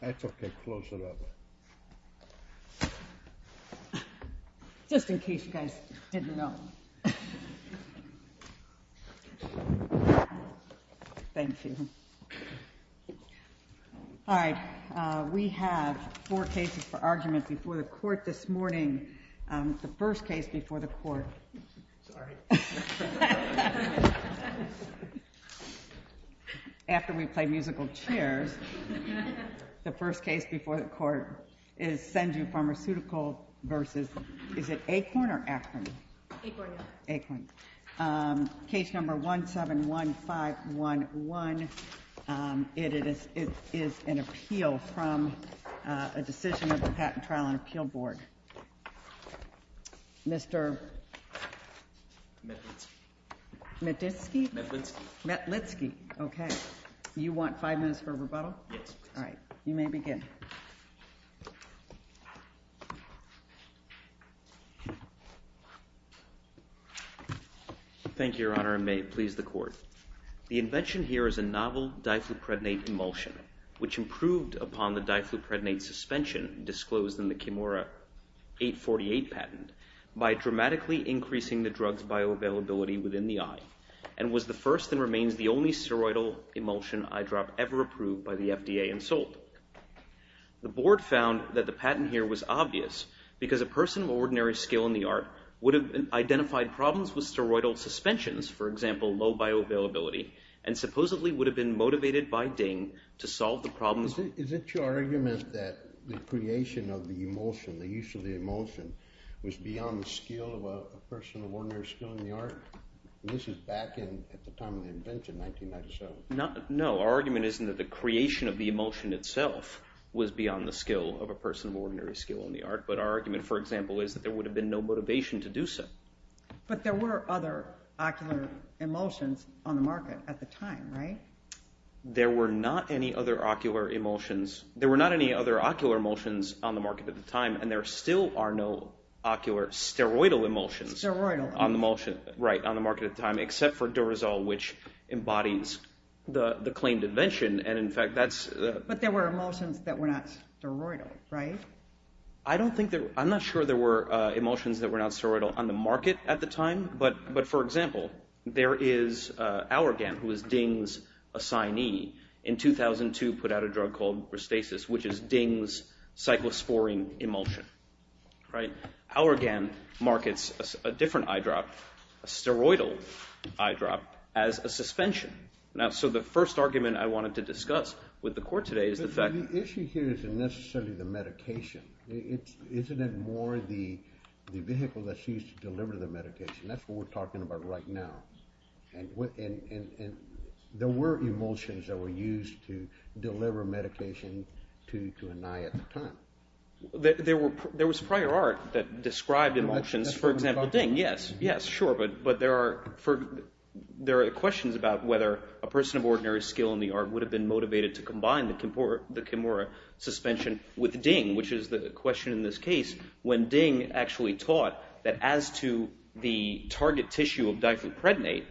I have four cases for argument before the Court this morning. The first case before the Court is Senju Pharmaceutical Co., Ltd. v. Akorn, Inc. Case number 171511, it is an appeal from a decision of the Patent Trial and Appeal Board. Mr. Metlitsky. Metlitsky? Metlitsky. Metlitsky. Okay. You want five minutes for rebuttal? Yes, please. All right. You may begin. Thank you, Your Honor, and may it please the Court. The invention here is a novel diplopredanate emulsion, which improved upon the diplopredanate suspension disclosed in the Kimura 848 patent by dramatically increasing the drug's bioavailability within the eye, and was the first and remains the only seroidal emulsion eyedrop ever approved by the FDA and sold. The Board found that the patent here was obvious because a person of ordinary skill in the art would have identified problems with steroidal suspensions, for example, low bioavailability, and supposedly would have been motivated by Deng to solve the problems. Is it your argument that the creation of the emulsion, the use of the emulsion, was beyond the skill of a person of ordinary skill in the art? This is back in, at the time of the invention, 1997. No, our argument isn't that the creation of the emulsion itself was beyond the skill of a person of ordinary skill in the art, but our argument, for example, is that there would have been no motivation to do so. But there were other ocular emulsions on the market at the time, right? There were not any other ocular emulsions on the market at the time, and there still are no ocular steroidal emulsions on the market at the time, except for Durazol, which embodies the claimed invention, and in fact, that's... But there were emulsions that were not steroidal, right? I don't think there... I'm not sure there were emulsions that were not steroidal on the market at the time, but for example, there is Auergan, who was Deng's assignee, in 2002 put out a drug called Restasis, which is Deng's cyclosporine emulsion, right? Auergan markets a different eyedrop, a steroidal eyedrop, as a suspension. Now, so the first argument I wanted to discuss with the court today is the fact... But the issue here isn't necessarily the medication, isn't it more the vehicle that's used to deliver the medication? That's what we're talking about right now, and there were emulsions that were used to deliver medication to an eye at the time. There was prior art that described emulsions, for example, Deng, yes, yes, sure, but there are questions about whether a person of ordinary skill in the art would have been motivated to combine the Kimura suspension with Deng, which is the question in this case, when Deng actually taught that as to the target tissue of diphenyprednate,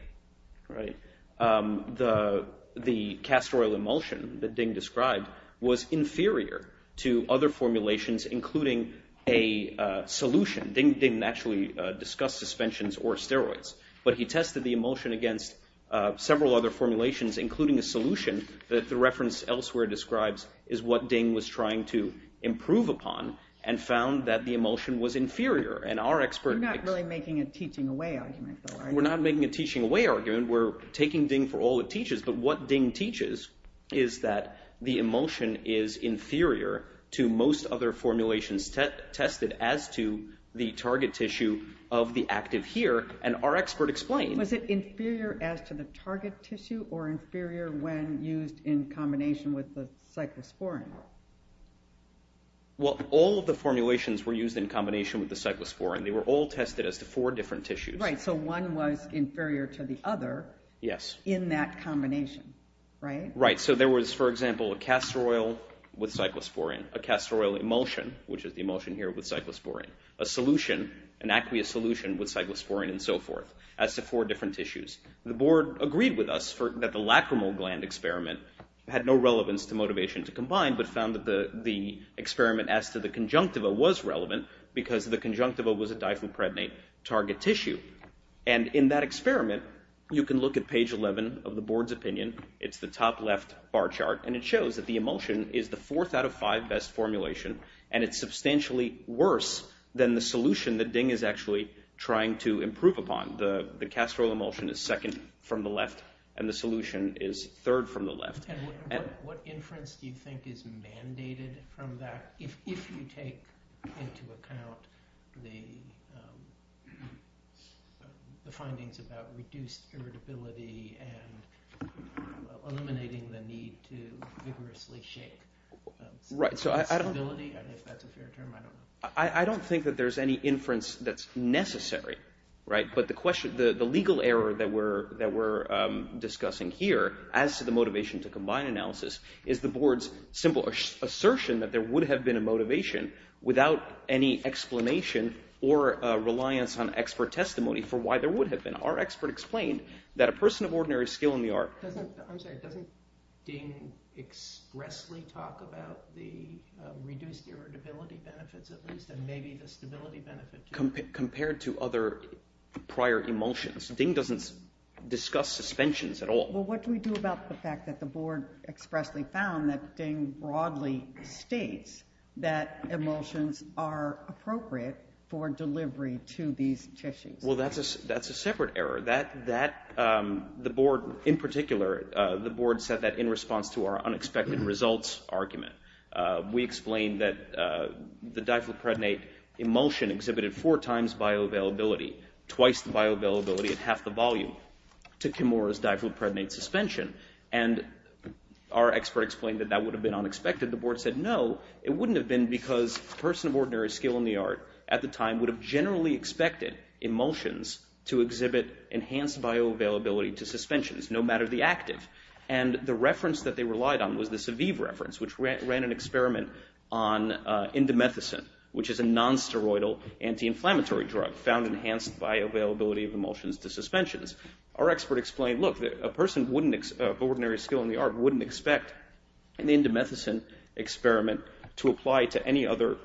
the castor oil emulsion that Deng described was inferior to other formulations, including a solution. Deng didn't actually discuss suspensions or steroids, but he tested the emulsion against several other formulations, including a solution that the reference elsewhere describes is what Deng was trying to improve upon, and found that the emulsion was inferior, and our expert... We're not really making a teaching away argument, though, are we? We're not making a teaching away argument, we're taking Deng for all it teaches, but what Deng teaches is that the emulsion is inferior to most other formulations tested as to the target tissue of the active here, and our expert explained... Was it inferior as to the target tissue, or inferior when used in combination with the cyclosporine? Well, all of the formulations were used in combination with the cyclosporine. They were all tested as the four different tissues. Right, so one was inferior to the other... Yes. In that combination, right? Right. So there was, for example, a castor oil with cyclosporine, a castor oil emulsion, which is the emulsion here with cyclosporine, a solution, an aqueous solution with cyclosporine and so forth, as to four different tissues. The board agreed with us that the lacrimal gland experiment had no relevance to motivation to combine, but found that the experiment as to the conjunctiva was relevant, because the conjunctiva was a diphoprednate target tissue, and in that experiment, you can look at page 11 of the board's opinion. It's the top left bar chart, and it shows that the emulsion is the fourth out of five best formulation, and it's substantially worse than the solution that Ding is actually trying to improve upon. The castor oil emulsion is second from the left, and the solution is third from the left. What inference do you think is mandated from that, if you take into account the findings about reduced irritability and eliminating the need to vigorously shake? I don't think that there's any inference that's necessary, but the legal error that we're discussing here, as to the motivation to combine analysis, is the board's simple assertion that there would have been a motivation without any explanation or reliance on expert testimony for why there would have been. Our expert explained that a person of ordinary skill in the art... I'm sorry, doesn't Ding expressly talk about the reduced irritability benefits, at least, and maybe the stability benefits? Compared to other prior emulsions, Ding doesn't discuss suspensions at all. Well, what do we do about the fact that the board expressly found that Ding broadly states that emulsions are appropriate for delivery to these tissues? Well, that's a separate error. The board, in particular, the board said that in response to our unexpected results argument. We explained that the diphloprednate emulsion exhibited four times bioavailability, twice the bioavailability at half the volume to Kimura's diphloprednate suspension, and our expert explained that that would have been unexpected. The board said, no, it wouldn't have been because a person of ordinary skill in the art, at the time, would have generally expected emulsions to exhibit enhanced bioavailability to suspensions, no matter the active. And the reference that they relied on was the Saviv reference, which ran an experiment on indomethacin, which is a nonsteroidal anti-inflammatory drug found in enhanced bioavailability of emulsions to suspensions. Our expert explained, look, a person of ordinary skill in the art wouldn't expect an indomethacin experiment to apply to any other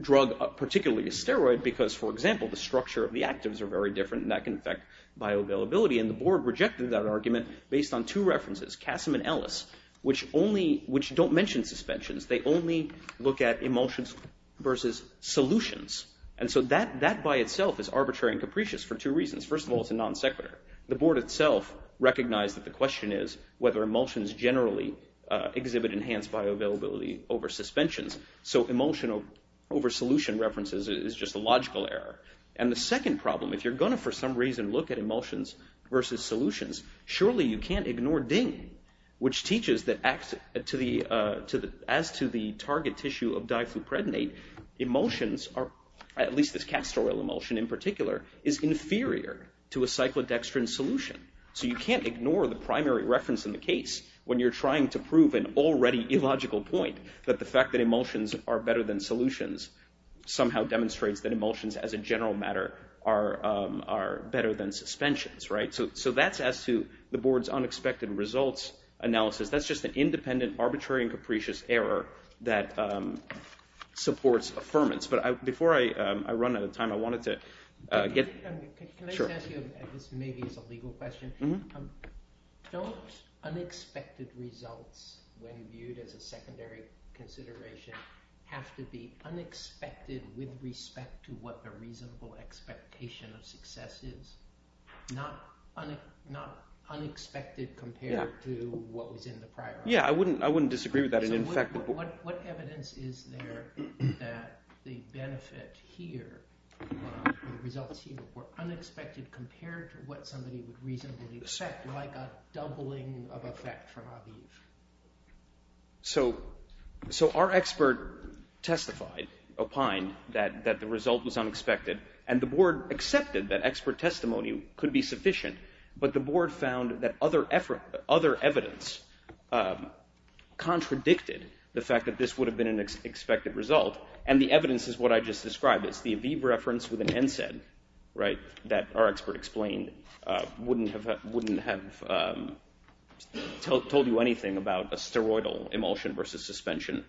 drug, particularly a steroid, because, for example, the structure of the actives are very different and that can affect bioavailability. And the board rejected that argument based on two references, Casim and Ellis, which don't mention suspensions. They only look at emulsions versus solutions. And so that by itself is arbitrary and capricious for two reasons. First of all, it's a non sequitur. The board itself recognized that the question is whether emulsions generally exhibit enhanced bioavailability over suspensions. So emulsion over solution references is just a logical error. And the second problem, if you're going to for some reason look at emulsions versus solutions, surely you can't ignore DING, which teaches that as to the target tissue of diphupredonate, emulsions are, at least this castor oil emulsion in particular, is inferior to a cyclodextrin solution. So you can't ignore the primary reference in the case when you're trying to prove an already illogical point that the fact that emulsions are better than solutions somehow demonstrates that emulsions as a general matter are better than suspensions. So that's as to the board's unexpected results analysis. That's just an independent, arbitrary and capricious error that supports affirmance. But before I run out of time, I wanted to get... Can I just ask you, and this maybe is a legal question, don't unexpected results, when viewed as a secondary factor, consideration, have to be unexpected with respect to what the reasonable expectation of success is? Not unexpected compared to what was in the prior... Yeah, I wouldn't disagree with that. What evidence is there that the benefit here, the results here, were unexpected compared to what somebody would reasonably expect, like a doubling of effect from Abib? So our expert testified, opined, that the result was unexpected and the board accepted that expert testimony could be sufficient, but the board found that other evidence contradicted the fact that this would have been an expected result and the evidence is what I just described. It's the Abib reference with an NSAID that our expert explained wouldn't have told you anything about a steroidal emulsion versus suspension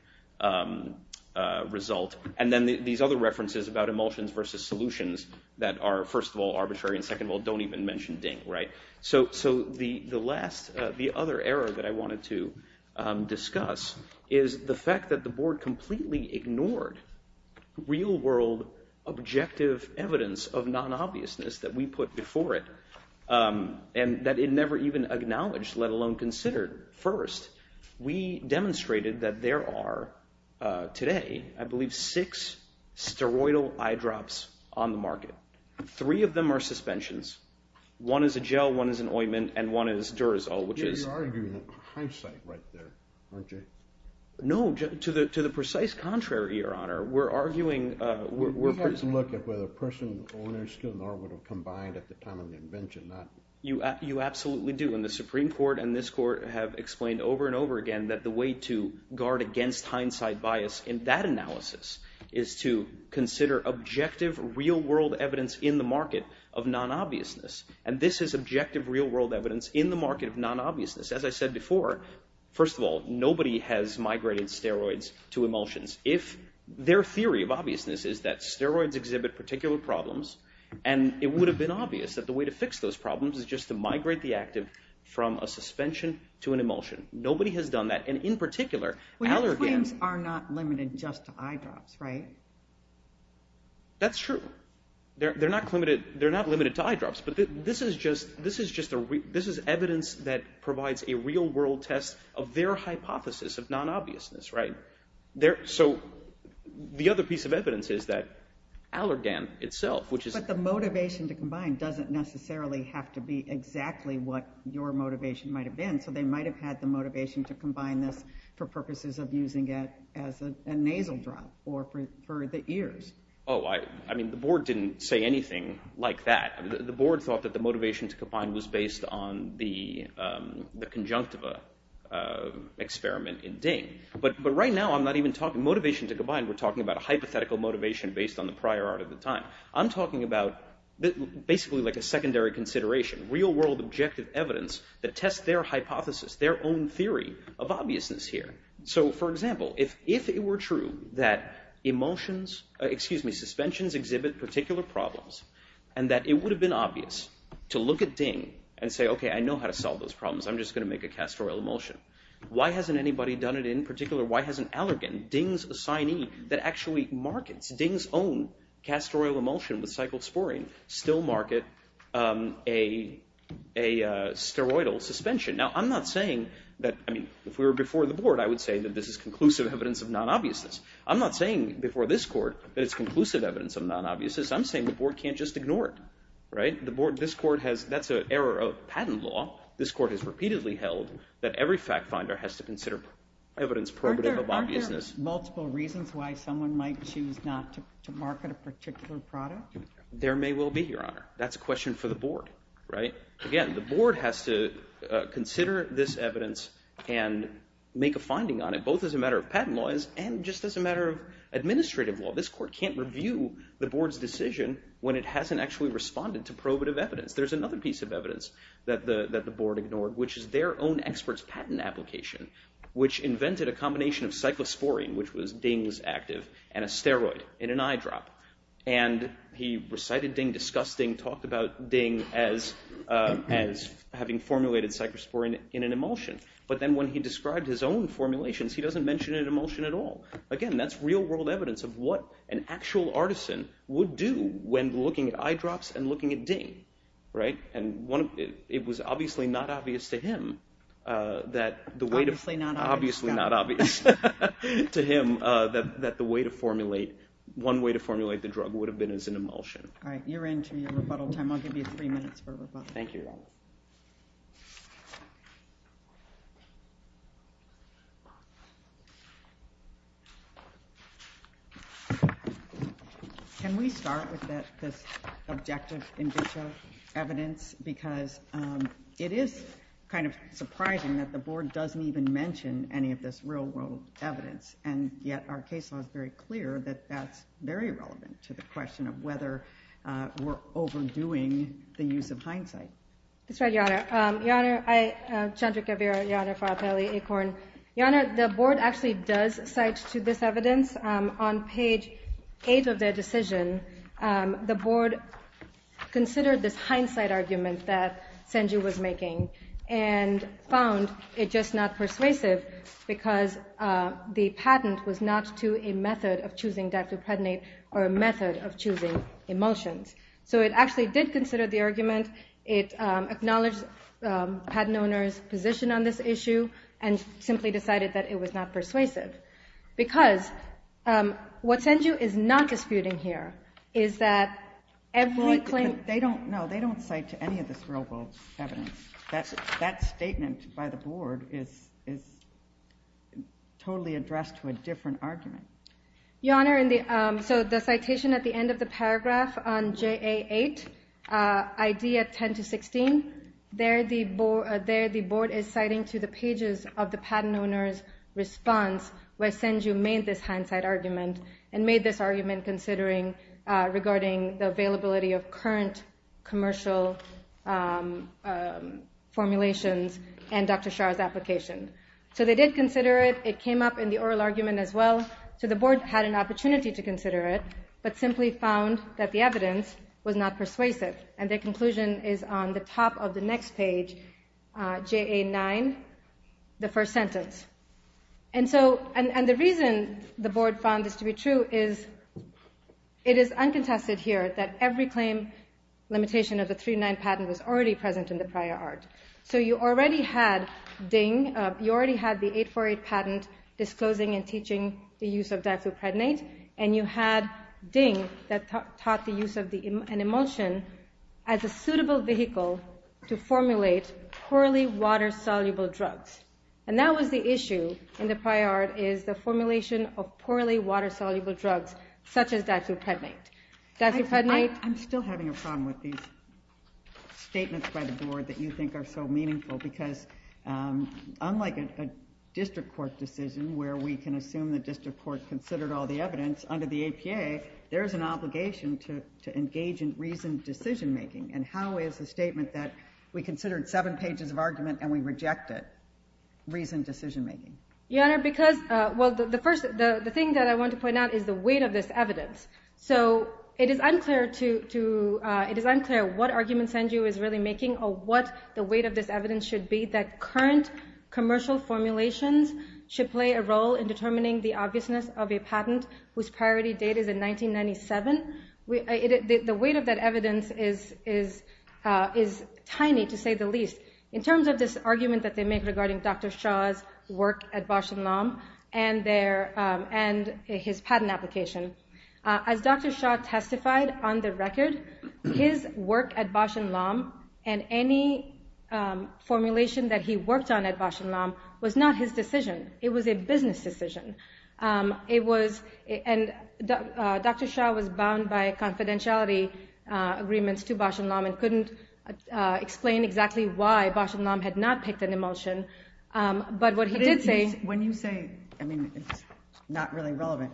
result. And then these other references about emulsions versus solutions that are, first of all, arbitrary and second of all, don't even mention DING. So the other error that I wanted to discuss is the fact that the board completely ignored real-world objective evidence of non-obviousness that we put before it and that it never even acknowledged, let alone considered. First, we demonstrated that there are today, I believe, six steroidal eye drops on the market. Three of them are suspensions. One is a gel, one is an ointment, and one is Durazol. You're arguing hindsight right there, aren't you? No, to the precise contrary, Your Honor. We have to look at whether person, owner, skill, and art would have combined at the time of the invention. You absolutely do, and the Supreme Court and this Court have explained over and over again that the way to guard against hindsight bias in that analysis is to consider objective, real-world evidence in the market of non-obviousness. And this is objective, real-world evidence in the market of non-obviousness. As I said before, first of all, nobody has migrated steroids to emulsions if their theory of obviousness is that steroids exhibit particular problems and it would have been obvious that the way to fix those problems is just to migrate the active from a suspension to an emulsion. Nobody has done that, and in particular, When your claims are not limited just to eye drops, right? That's true. They're not limited to eye drops, but this is evidence that provides a real-world test of their hypothesis of non-obviousness, right? The other piece of evidence is that Allergan itself, But the motivation to combine doesn't necessarily have to be exactly what your motivation might have been, so they might have had the motivation to combine this for purposes of using it as a nasal drop or for the ears. The board didn't say anything like that. The board thought that the motivation to combine was based on the conjunctiva experiment in Ding. But right now, I'm not even talking motivation to combine, we're talking about a hypothetical motivation based on the prior art of the time. I'm talking about basically like a secondary consideration, real-world objective evidence that tests their hypothesis, their own theory of obviousness here. So, for example, if it were true that suspensions exhibit particular problems and that it would have been obvious to look at Ding and say, OK, I know how to solve those problems, I'm just going to make a castor oil emulsion. Why hasn't anybody done it in particular? Why hasn't Allergan, Ding's assignee, that actually markets Ding's own castor oil emulsion with cyclosporine, still market a steroidal suspension? If we were before the board, I would say that this is conclusive evidence of non-obviousness. I'm not saying before this court that it's conclusive evidence of non-obviousness. I'm saying the board can't just ignore it. That's an error of patent law. This court has repeatedly held that every fact-finder has to consider evidence probative of obviousness. Are there multiple reasons why someone might choose not to market a particular product? There may well be, Your Honor. That's a question for the board. Again, the board has to consider this evidence and make a finding on it, both as a matter of patent law and just as a matter of administrative law. This court can't review the board's decision when it hasn't actually responded to probative evidence. There's another piece of evidence that the board ignored, which is their own expert's patent application, which invented a combination of cyclosporine, which was Ding's active, and a steroid in an eyedrop. He recited Ding, discussed Ding, talked about Ding as having formulated cyclosporine in an emulsion. But then when he described his own formulations, he doesn't mention an emulsion at all. Again, that's real-world evidence of what an actual artisan would do when looking at eyedrops and looking at Ding. It was obviously not obvious to him that the way to... one way to formulate the drug would have been as an emulsion. All right, you're in for your rebuttal time. I'll give you three minutes for a rebuttal. Thank you, Your Honor. Can we start with this objective in vitro evidence? Because it is kind of surprising that the board doesn't even mention any of this real-world evidence. And yet our case law is very clear that that's very relevant to the question of whether we're overdoing the use of hindsight. That's right, Your Honor. Chandra Kavira, Your Honor for Appellee Acorn. Your Honor, the board actually does cite to this evidence on page 8 of their decision. The board considered this hindsight argument that Sanju was making and found it just not persuasive because the patent was not to a method of choosing dactylprednate or a method of choosing emulsions. So it actually did consider the argument. It acknowledged the patent owner's position on this issue and simply decided that it was not persuasive. Because what Sanju is not disputing here is that every claim... No, they don't cite to any of this real-world evidence. That statement by the board is totally addressed to a different argument. Your Honor, so the citation at the end of the paragraph on JA8, idea 10-16, there the board is citing to the pages of the patent owner's response where Sanju made this hindsight argument and made this argument considering regarding the availability of current commercial formulations and Dr. Shah's application. So they did consider it. It came up in the oral argument as well. So the board had an opportunity to consider it but simply found that the evidence was not persuasive. And the conclusion is on the top of the next page, JA9, the first sentence. And the reason the board found this to be true is it is uncontested here that every claim limitation of the 3-9 patent was already present in the prior art. So you already had DING, you already had the 848 patent disclosing and teaching the use of diphtheropredanate and you had DING that taught the use of an emulsion as a suitable vehicle to formulate poorly water-soluble drugs. And that was the issue in the prior art is the formulation of poorly water-soluble drugs such as diphtheropredanate. I'm still having a problem with these statements by the board that you think are so meaningful because unlike a district court decision where we can assume the district court considered all the evidence, under the APA there is an obligation to engage in reasoned decision making and how is a statement that we considered 7 pages of argument and we reject it, reasoned decision making? Your Honor, the thing that I want to point out is the weight of this evidence. It is unclear what argument Sanju is really making or what the weight of this evidence should be that current commercial formulations should play a role in determining the obviousness of a patent whose priority date is in 1997. The weight of that evidence is tiny to say the least. In terms of this argument that they make regarding Dr. Shah's work at Bausch & Lomb and his patent application, as Dr. Shah testified on the record his work at Bausch & Lomb and any formulation that he worked on at Bausch & Lomb was not his decision, it was a business decision. Dr. Shah was bound by confidentiality agreements to Bausch & Lomb and couldn't explain exactly why Bausch & Lomb had not picked an emulsion but what he did say... When you say it's not really relevant,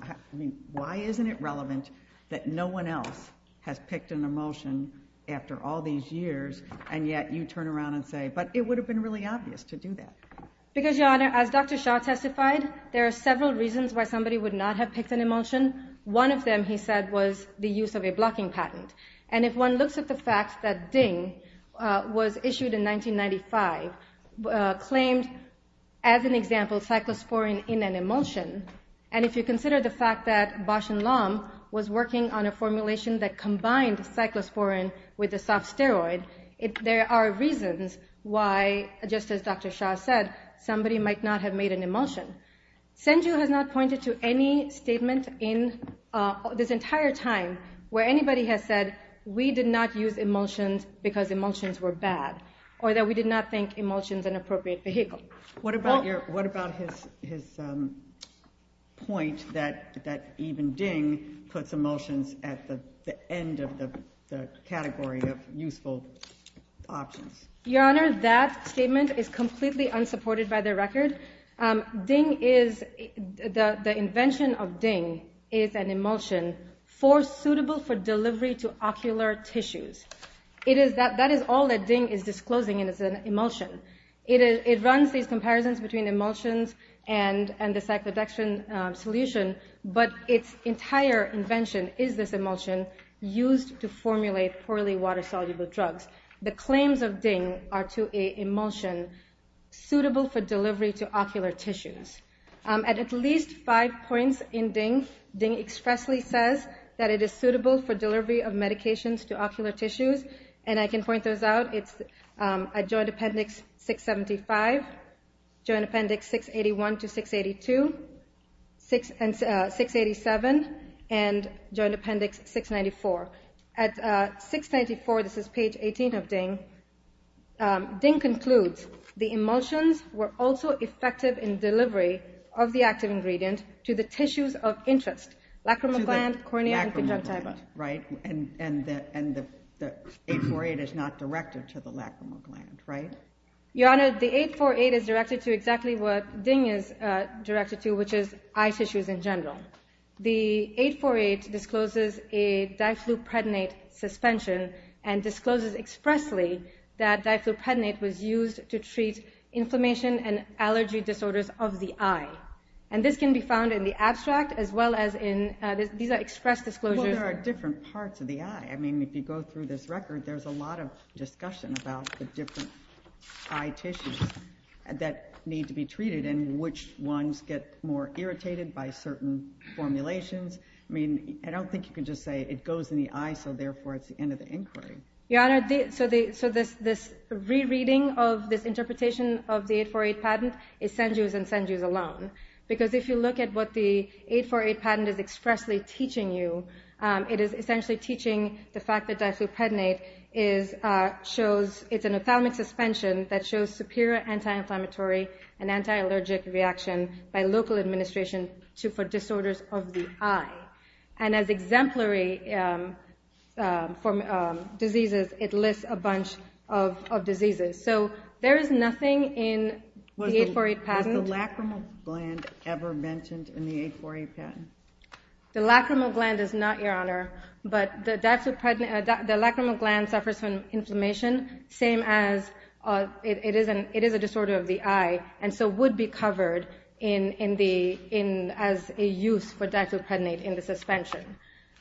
why isn't it relevant that no one else has picked an emulsion after all these years and yet you turn around and say but it would have been really obvious to do that. As Dr. Shah testified, there are several reasons why somebody would not have picked an emulsion. One of them, he said, was the use of a blocking patent and if one looks at the fact that DING was issued in 1995, claimed as an example cyclosporine in an emulsion and if you consider the fact that Bausch & Lomb was working on a formulation that combined cyclosporine with a soft steroid, there are reasons why, just as Dr. Shah said, somebody might not have made an emulsion. Senju has not pointed to any statement this entire time where anybody has said we did not use emulsions because emulsions were bad or that we did not think emulsion was an appropriate vehicle. What about his point that even DING puts emulsions at the end of the category of useful options? Your Honor, that statement is completely unsupported by the record. The invention of DING is an emulsion suitable for delivery to ocular tissues. That is all that DING is disclosing and it's an emulsion. It runs these comparisons between emulsions and the cyclodextrin solution but its entire invention is this emulsion used to formulate poorly water-soluble drugs. The claims of DING are to an emulsion suitable for delivery to ocular tissues. At at least five points in DING DING expressly says that it is suitable for delivery of medications to ocular tissues and I can point those out. It's at Joint Appendix 675, Joint Appendix 681 to 682 and Joint Appendix 694. At 694, this is page 18 of DING DING concludes the emulsions were also effective in delivery of the active ingredient to the tissues of interest, lacrimal gland, cornea and conjunctiva. And the 848 is not directed to the lacrimal gland, right? Your Honor, the 848 is directed to exactly what DING is directed to, which is eye tissues in general. The 848 discloses a diphleopredanate suspension and discloses expressly that diphleopredanate was used to treat inflammation and allergy disorders of the eye. And this can be found in the abstract as well as in... Well, there are different parts of the eye. I mean, if you go through this record, there's a lot of discussion about the different eye tissues that need to be treated and which ones get more irritated by certain formulations. I mean, I don't think you can just say it goes in the eye so therefore it's the end of the inquiry. Your Honor, so this re-reading of this interpretation of the 848 patent is Sanju's and Sanju's alone. Because if you look at what the 848 patent is expressly teaching you, it is essentially teaching the fact that diphleopredanate is an ophthalmic suspension that shows superior anti-inflammatory and anti-allergic reaction by local administration for disorders of the eye. And as exemplary for diseases, it lists a bunch of diseases. So there is nothing in the 848 patent... Was the lacrimal gland ever mentioned in the 848 patent? The lacrimal gland is not, Your Honor. But the lacrimal gland suffers from inflammation, same as it is a disorder of the eye, and so would be covered as a use for diphleopredanate in the suspension.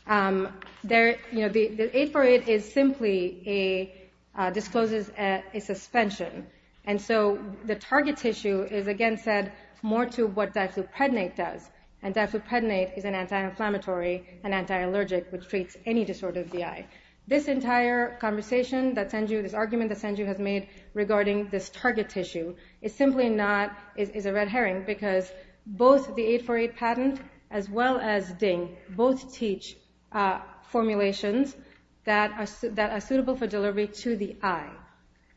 The 848 is simply a discloses a suspension. And so the target tissue is, again, said more to what diphleopredanate does, and diphleopredanate is an anti-inflammatory and anti-allergic which treats any disorder of the eye. This entire conversation that Sanju, this argument that Sanju has made regarding this target tissue is simply not, is a red herring because both the 848 patent as well as DING both teach formulations that are suitable for delivery to the eye.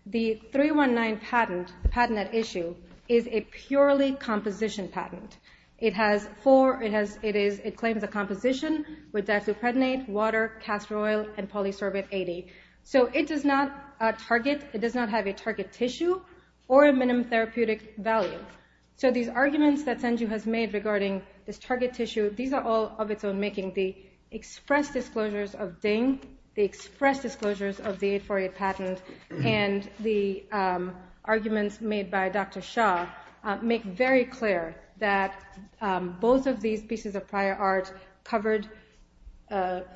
The 319 patent the patent at issue is a purely composition patent. It has four, it claims a composition with diphleopredanate, water, castor oil and polysorbate 80. So it does not target, it does not have a target tissue or a minimum therapeutic value. So these arguments that Sanju has made regarding this target tissue, these are all of its own making. The express disclosures of DING the express disclosures of the 848 patent and the arguments made by Dr. Shah make very clear that both of these pieces of prior art covered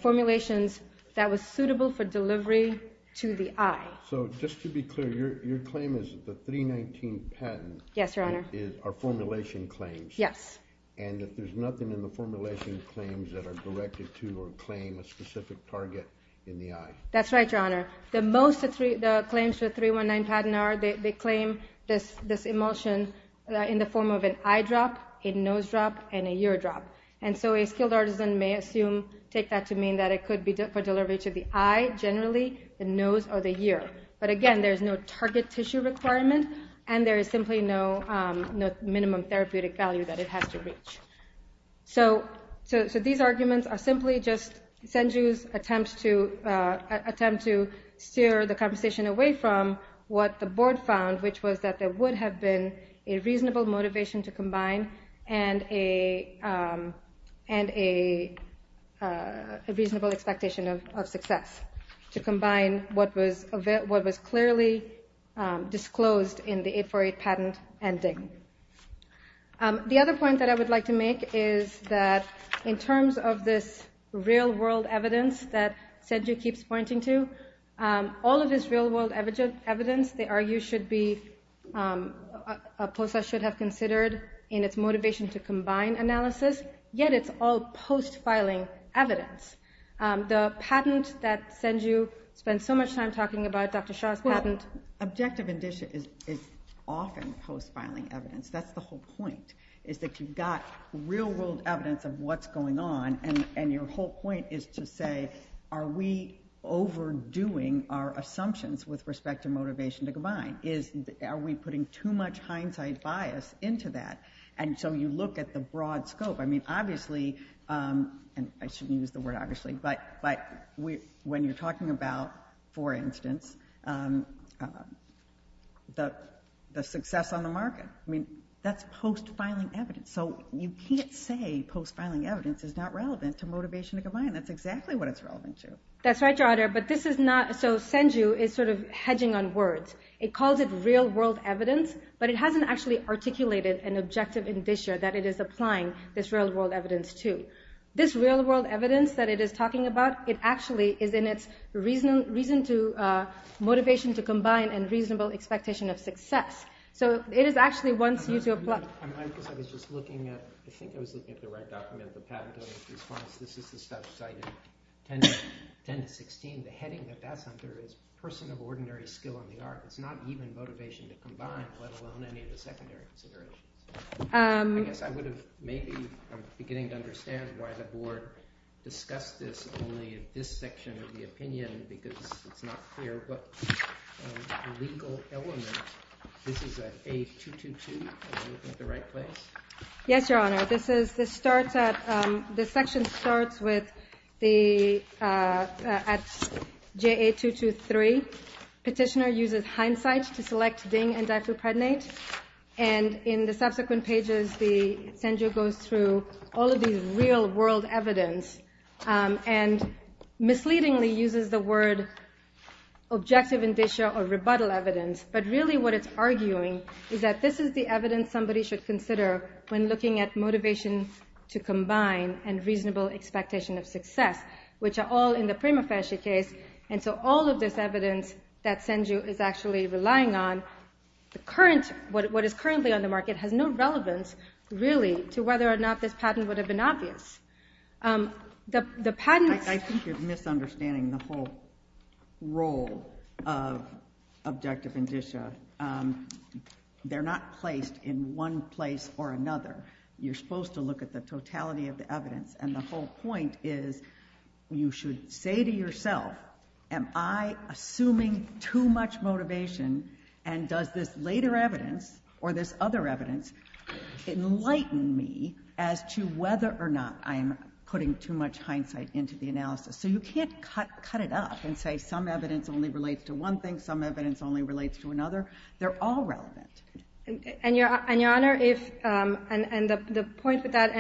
formulations that was suitable for delivery to the eye. So just to be clear, your claim is that the 319 patent are formulation claims and that there's nothing in the formulation claims that are directed to or claim a specific target in the eye. That's right, your honor. The most claims for 319 patent are, they claim this emulsion in the form of an eye drop a nose drop and a ear drop. And so a skilled artisan may assume, take that to mean that it could be for delivery to the eye generally, the nose or the ear. But again, there's no target tissue requirement and there is simply no minimum therapeutic value that it has to reach. So these arguments are simply just Senju's attempt to steer the conversation away from what the board found, which was that there would have been a reasonable motivation to combine and a reasonable expectation of success to combine what was clearly disclosed in the 848 patent and DING. The other point that I would like to make is that in terms of this real-world evidence that Senju keeps pointing to all of this real-world evidence they argue should be should have considered in its motivation to combine analysis, yet it's all post-filing evidence. The patent that Senju spent so much time talking about, Dr. Shah's patent Objective indicia is often post-filing evidence. That's the whole point, is that you've got real-world evidence of what's going on and your whole point is to say, are we overdoing our assumptions with respect to motivation to combine? Are we putting too much hindsight bias into that? And so you look at the broad scope I mean obviously, and I shouldn't use the word obviously, but when you're talking about for instance the success on the market I mean, that's post-filing evidence so you can't say post-filing evidence is not relevant to motivation to combine. That's exactly what it's relevant to. That's right, Your Honor, but this is not, so Senju is sort of hedging on words. It calls it real-world evidence but it hasn't actually articulated an objective indicia that it is applying this real-world evidence to. This real-world evidence that it is talking about, it actually is in its reason to, motivation to combine and reasonable expectation of success. So it is actually wants you to apply I think I was looking at the right document this is the stuff cited 10-16 the heading that that's under is person of ordinary skill in the art. It's not even motivation to combine let alone any of the secondary considerations. I guess I would have maybe, I'm beginning to understand why the board discussed this only in this section of the opinion because it's not clear what legal element this is at A222, am I looking at the right place? Yes, Your Honor, this is, this starts at this section starts with the at JA223 petitioner uses hindsight to select DING and diphenylpredonate and in the subsequent pages Senju goes through all of these real-world evidence and misleadingly uses the word objective indicia or rebuttal evidence but really what it's arguing is that this is the evidence somebody should consider when looking at motivation to combine and reasonable expectation of success which are all in the prima facie case and so all of this evidence that Senju is actually relying on what is currently on the market has no relevance really to whether or not this patent would have been obvious I think you're misunderstanding the whole role of objective indicia they're not placed in one place or another you're supposed to look at the totality of the evidence and the whole point is you should say to yourself, am I assuming too much motivation and does this later evidence or this other evidence enlighten me as to whether or not I'm putting too much hindsight into the analysis so you can't cut it up and say some evidence only relates to one thing, some evidence only relates to another they're all relevant I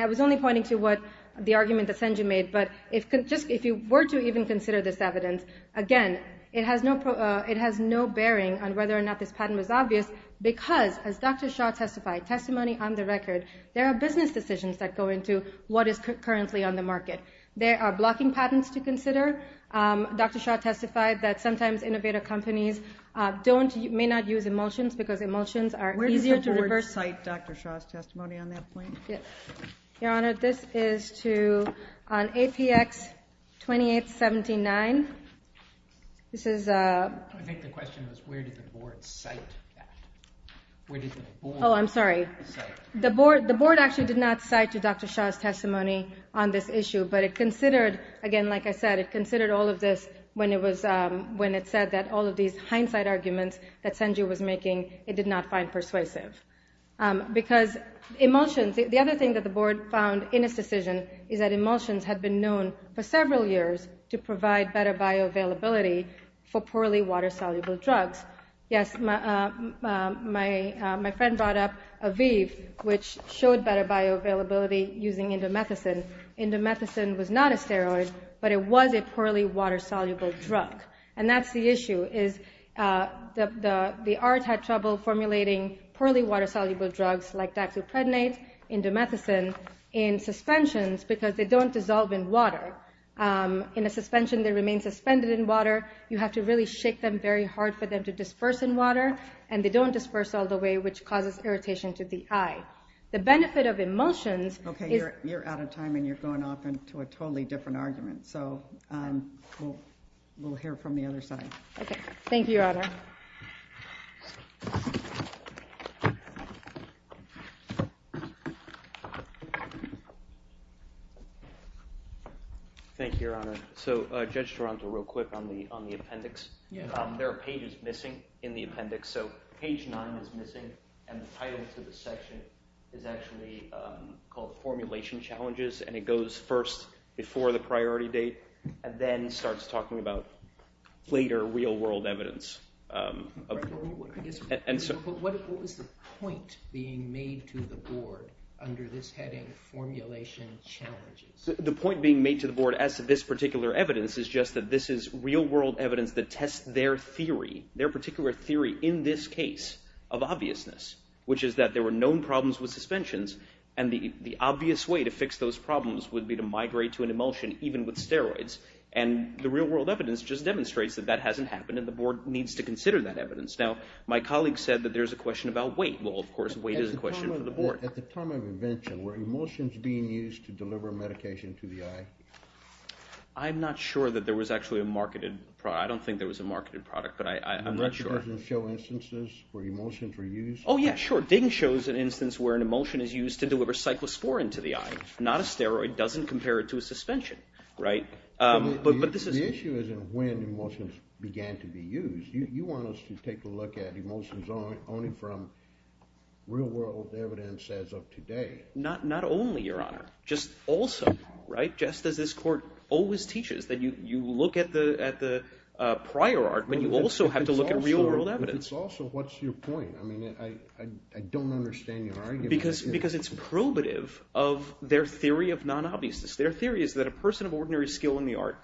was only pointing to the argument that Senju made but if you were to even consider this evidence again, it has no bearing on whether or not this patent was obvious because as Dr. Shaw testified testimony on the record, there are business decisions that go into what is currently on the market there are blocking patents to consider Dr. Shaw testified that sometimes innovative companies may not use emulsions because emulsions are easier to reverse Where does the board cite Dr. Shaw's testimony on that point? Your Honor, this is on APX 2879 I think the question was where did the board cite that? Oh, I'm sorry. The board actually did not cite Dr. Shaw's testimony on this issue but it considered, again like I said, it considered all of this when it said that all of these hindsight arguments that Senju was making, it did not find persuasive because emulsions, the other thing that the board found in his decision is that emulsions had been known for several years to provide better bioavailability for poorly water-soluble drugs Yes, my friend brought up Aviv, which showed better bioavailability using indomethacin. Indomethacin was not a steroid but it was a poorly water-soluble drug and that's the issue The art had trouble formulating poorly water-soluble drugs like daxeprednate indomethacin in suspensions because they don't dissolve in water. In a suspension they remain suspended in water. You have to really shake them very hard for them to disperse in water and they don't disperse all the way, which causes irritation to the eye. The benefit of emulsions... You're out of time and you're going off into a totally different argument We'll hear from the other side Thank you, Your Honor Thank you, Your Honor. Judge Taranto, real quick on the appendix. There are pages missing in the appendix. Page 9 is missing and the title to the section is actually called Formulation Challenges and it goes first before the priority date and then starts talking about later real-world evidence What was the point being made to the Board under this heading Formulation Challenges? The point being made to the Board as to this particular evidence is just that this is real-world evidence that tests their theory their particular theory in this case of obviousness which is that there were known problems with suspensions and the obvious way to fix those problems would be to migrate to an emulsion, even with steroids and the real-world evidence just demonstrates that that hasn't happened and the Board needs to consider that evidence Now, my colleague said that there's a question about weight At the time of invention, were emulsions being used to deliver medication to the eye? I'm not sure that there was actually a marketed product I don't think there was a marketed product Did the records show instances where emulsions were used? Oh yeah, sure. Ding shows an instance where an emulsion is used to deliver cyclosporine to the eye. Not a steroid It doesn't compare to a suspension The issue is in when emulsions began to be used You want us to take a look at emulsions only from real-world evidence as of today Not only, Your Honor Just as this Court always teaches that you look at the prior art but you also have to look at real-world evidence If it's also, what's your point? I don't understand your argument Because it's probative of their theory of non-obviousness Their theory is that a person of ordinary skill in the art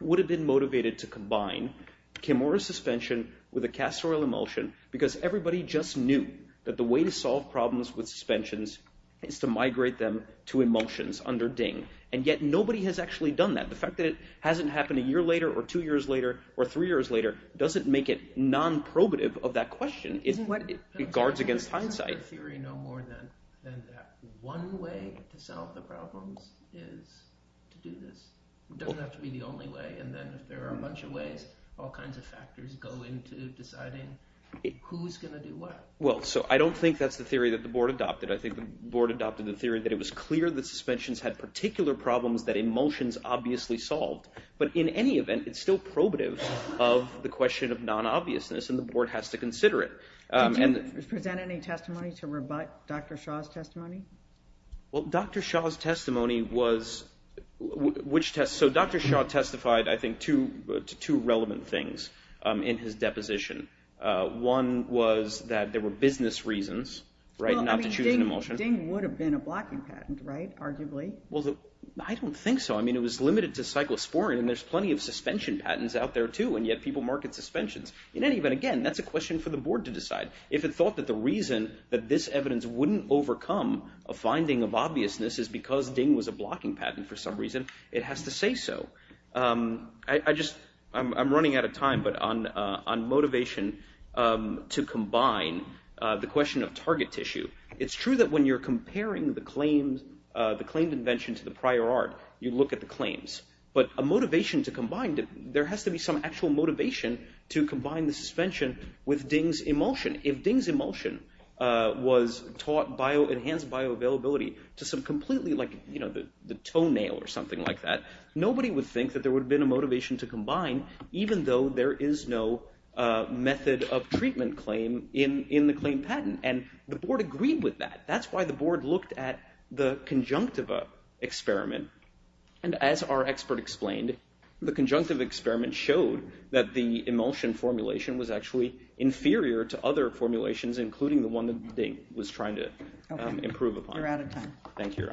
would have been motivated to combine chemo or a suspension with a castor oil emulsion because everybody just knew that the way to solve problems with suspensions is to migrate them to emulsions under Ding And yet nobody has actually done that The fact that it hasn't happened a year later, or two years later, or three years later doesn't make it non-probative of that question It guards against hindsight One way to solve the problems is to do this It doesn't have to be the only way And then if there are a bunch of ways all kinds of factors go into deciding who's going to do what I don't think that's the theory that the Board adopted I think the Board adopted the theory that it was clear that suspensions had particular problems that emulsions obviously solved But in any event, it's still probative of the question of non-obviousness And the Board has to consider it Did you present any testimony to rebut Dr. Shah's testimony? Well, Dr. Shah's testimony was So Dr. Shah testified I think to two relevant things in his deposition One was that there were business reasons Well, I mean, Ding would have been a blocking patent, right? Arguably Well, I don't think so. I mean, it was limited to cyclosporine And there's plenty of suspension patents out there too And yet people market suspensions In any event, again, that's a question for the Board to decide If it thought that the reason that this evidence wouldn't overcome a finding of obviousness is because Ding was a blocking patent It has to say so I'm running out of time But on motivation to combine The question of target tissue It's true that when you're comparing the claimed invention to the prior art You look at the claims But a motivation to combine There has to be some actual motivation to combine the suspension with Ding's emulsion If Ding's emulsion was taught enhanced bioavailability To some completely like the toenail or something like that Nobody would think that there would have been a motivation to combine Even though there is no method of treatment claim In the claimed patent And the Board agreed with that That's why the Board looked at the conjunctiva experiment And as our expert explained The conjunctiva experiment showed that the emulsion formulation Was actually inferior to other formulations Including the one that Ding was trying to improve upon You're out of time Thank you Your Honor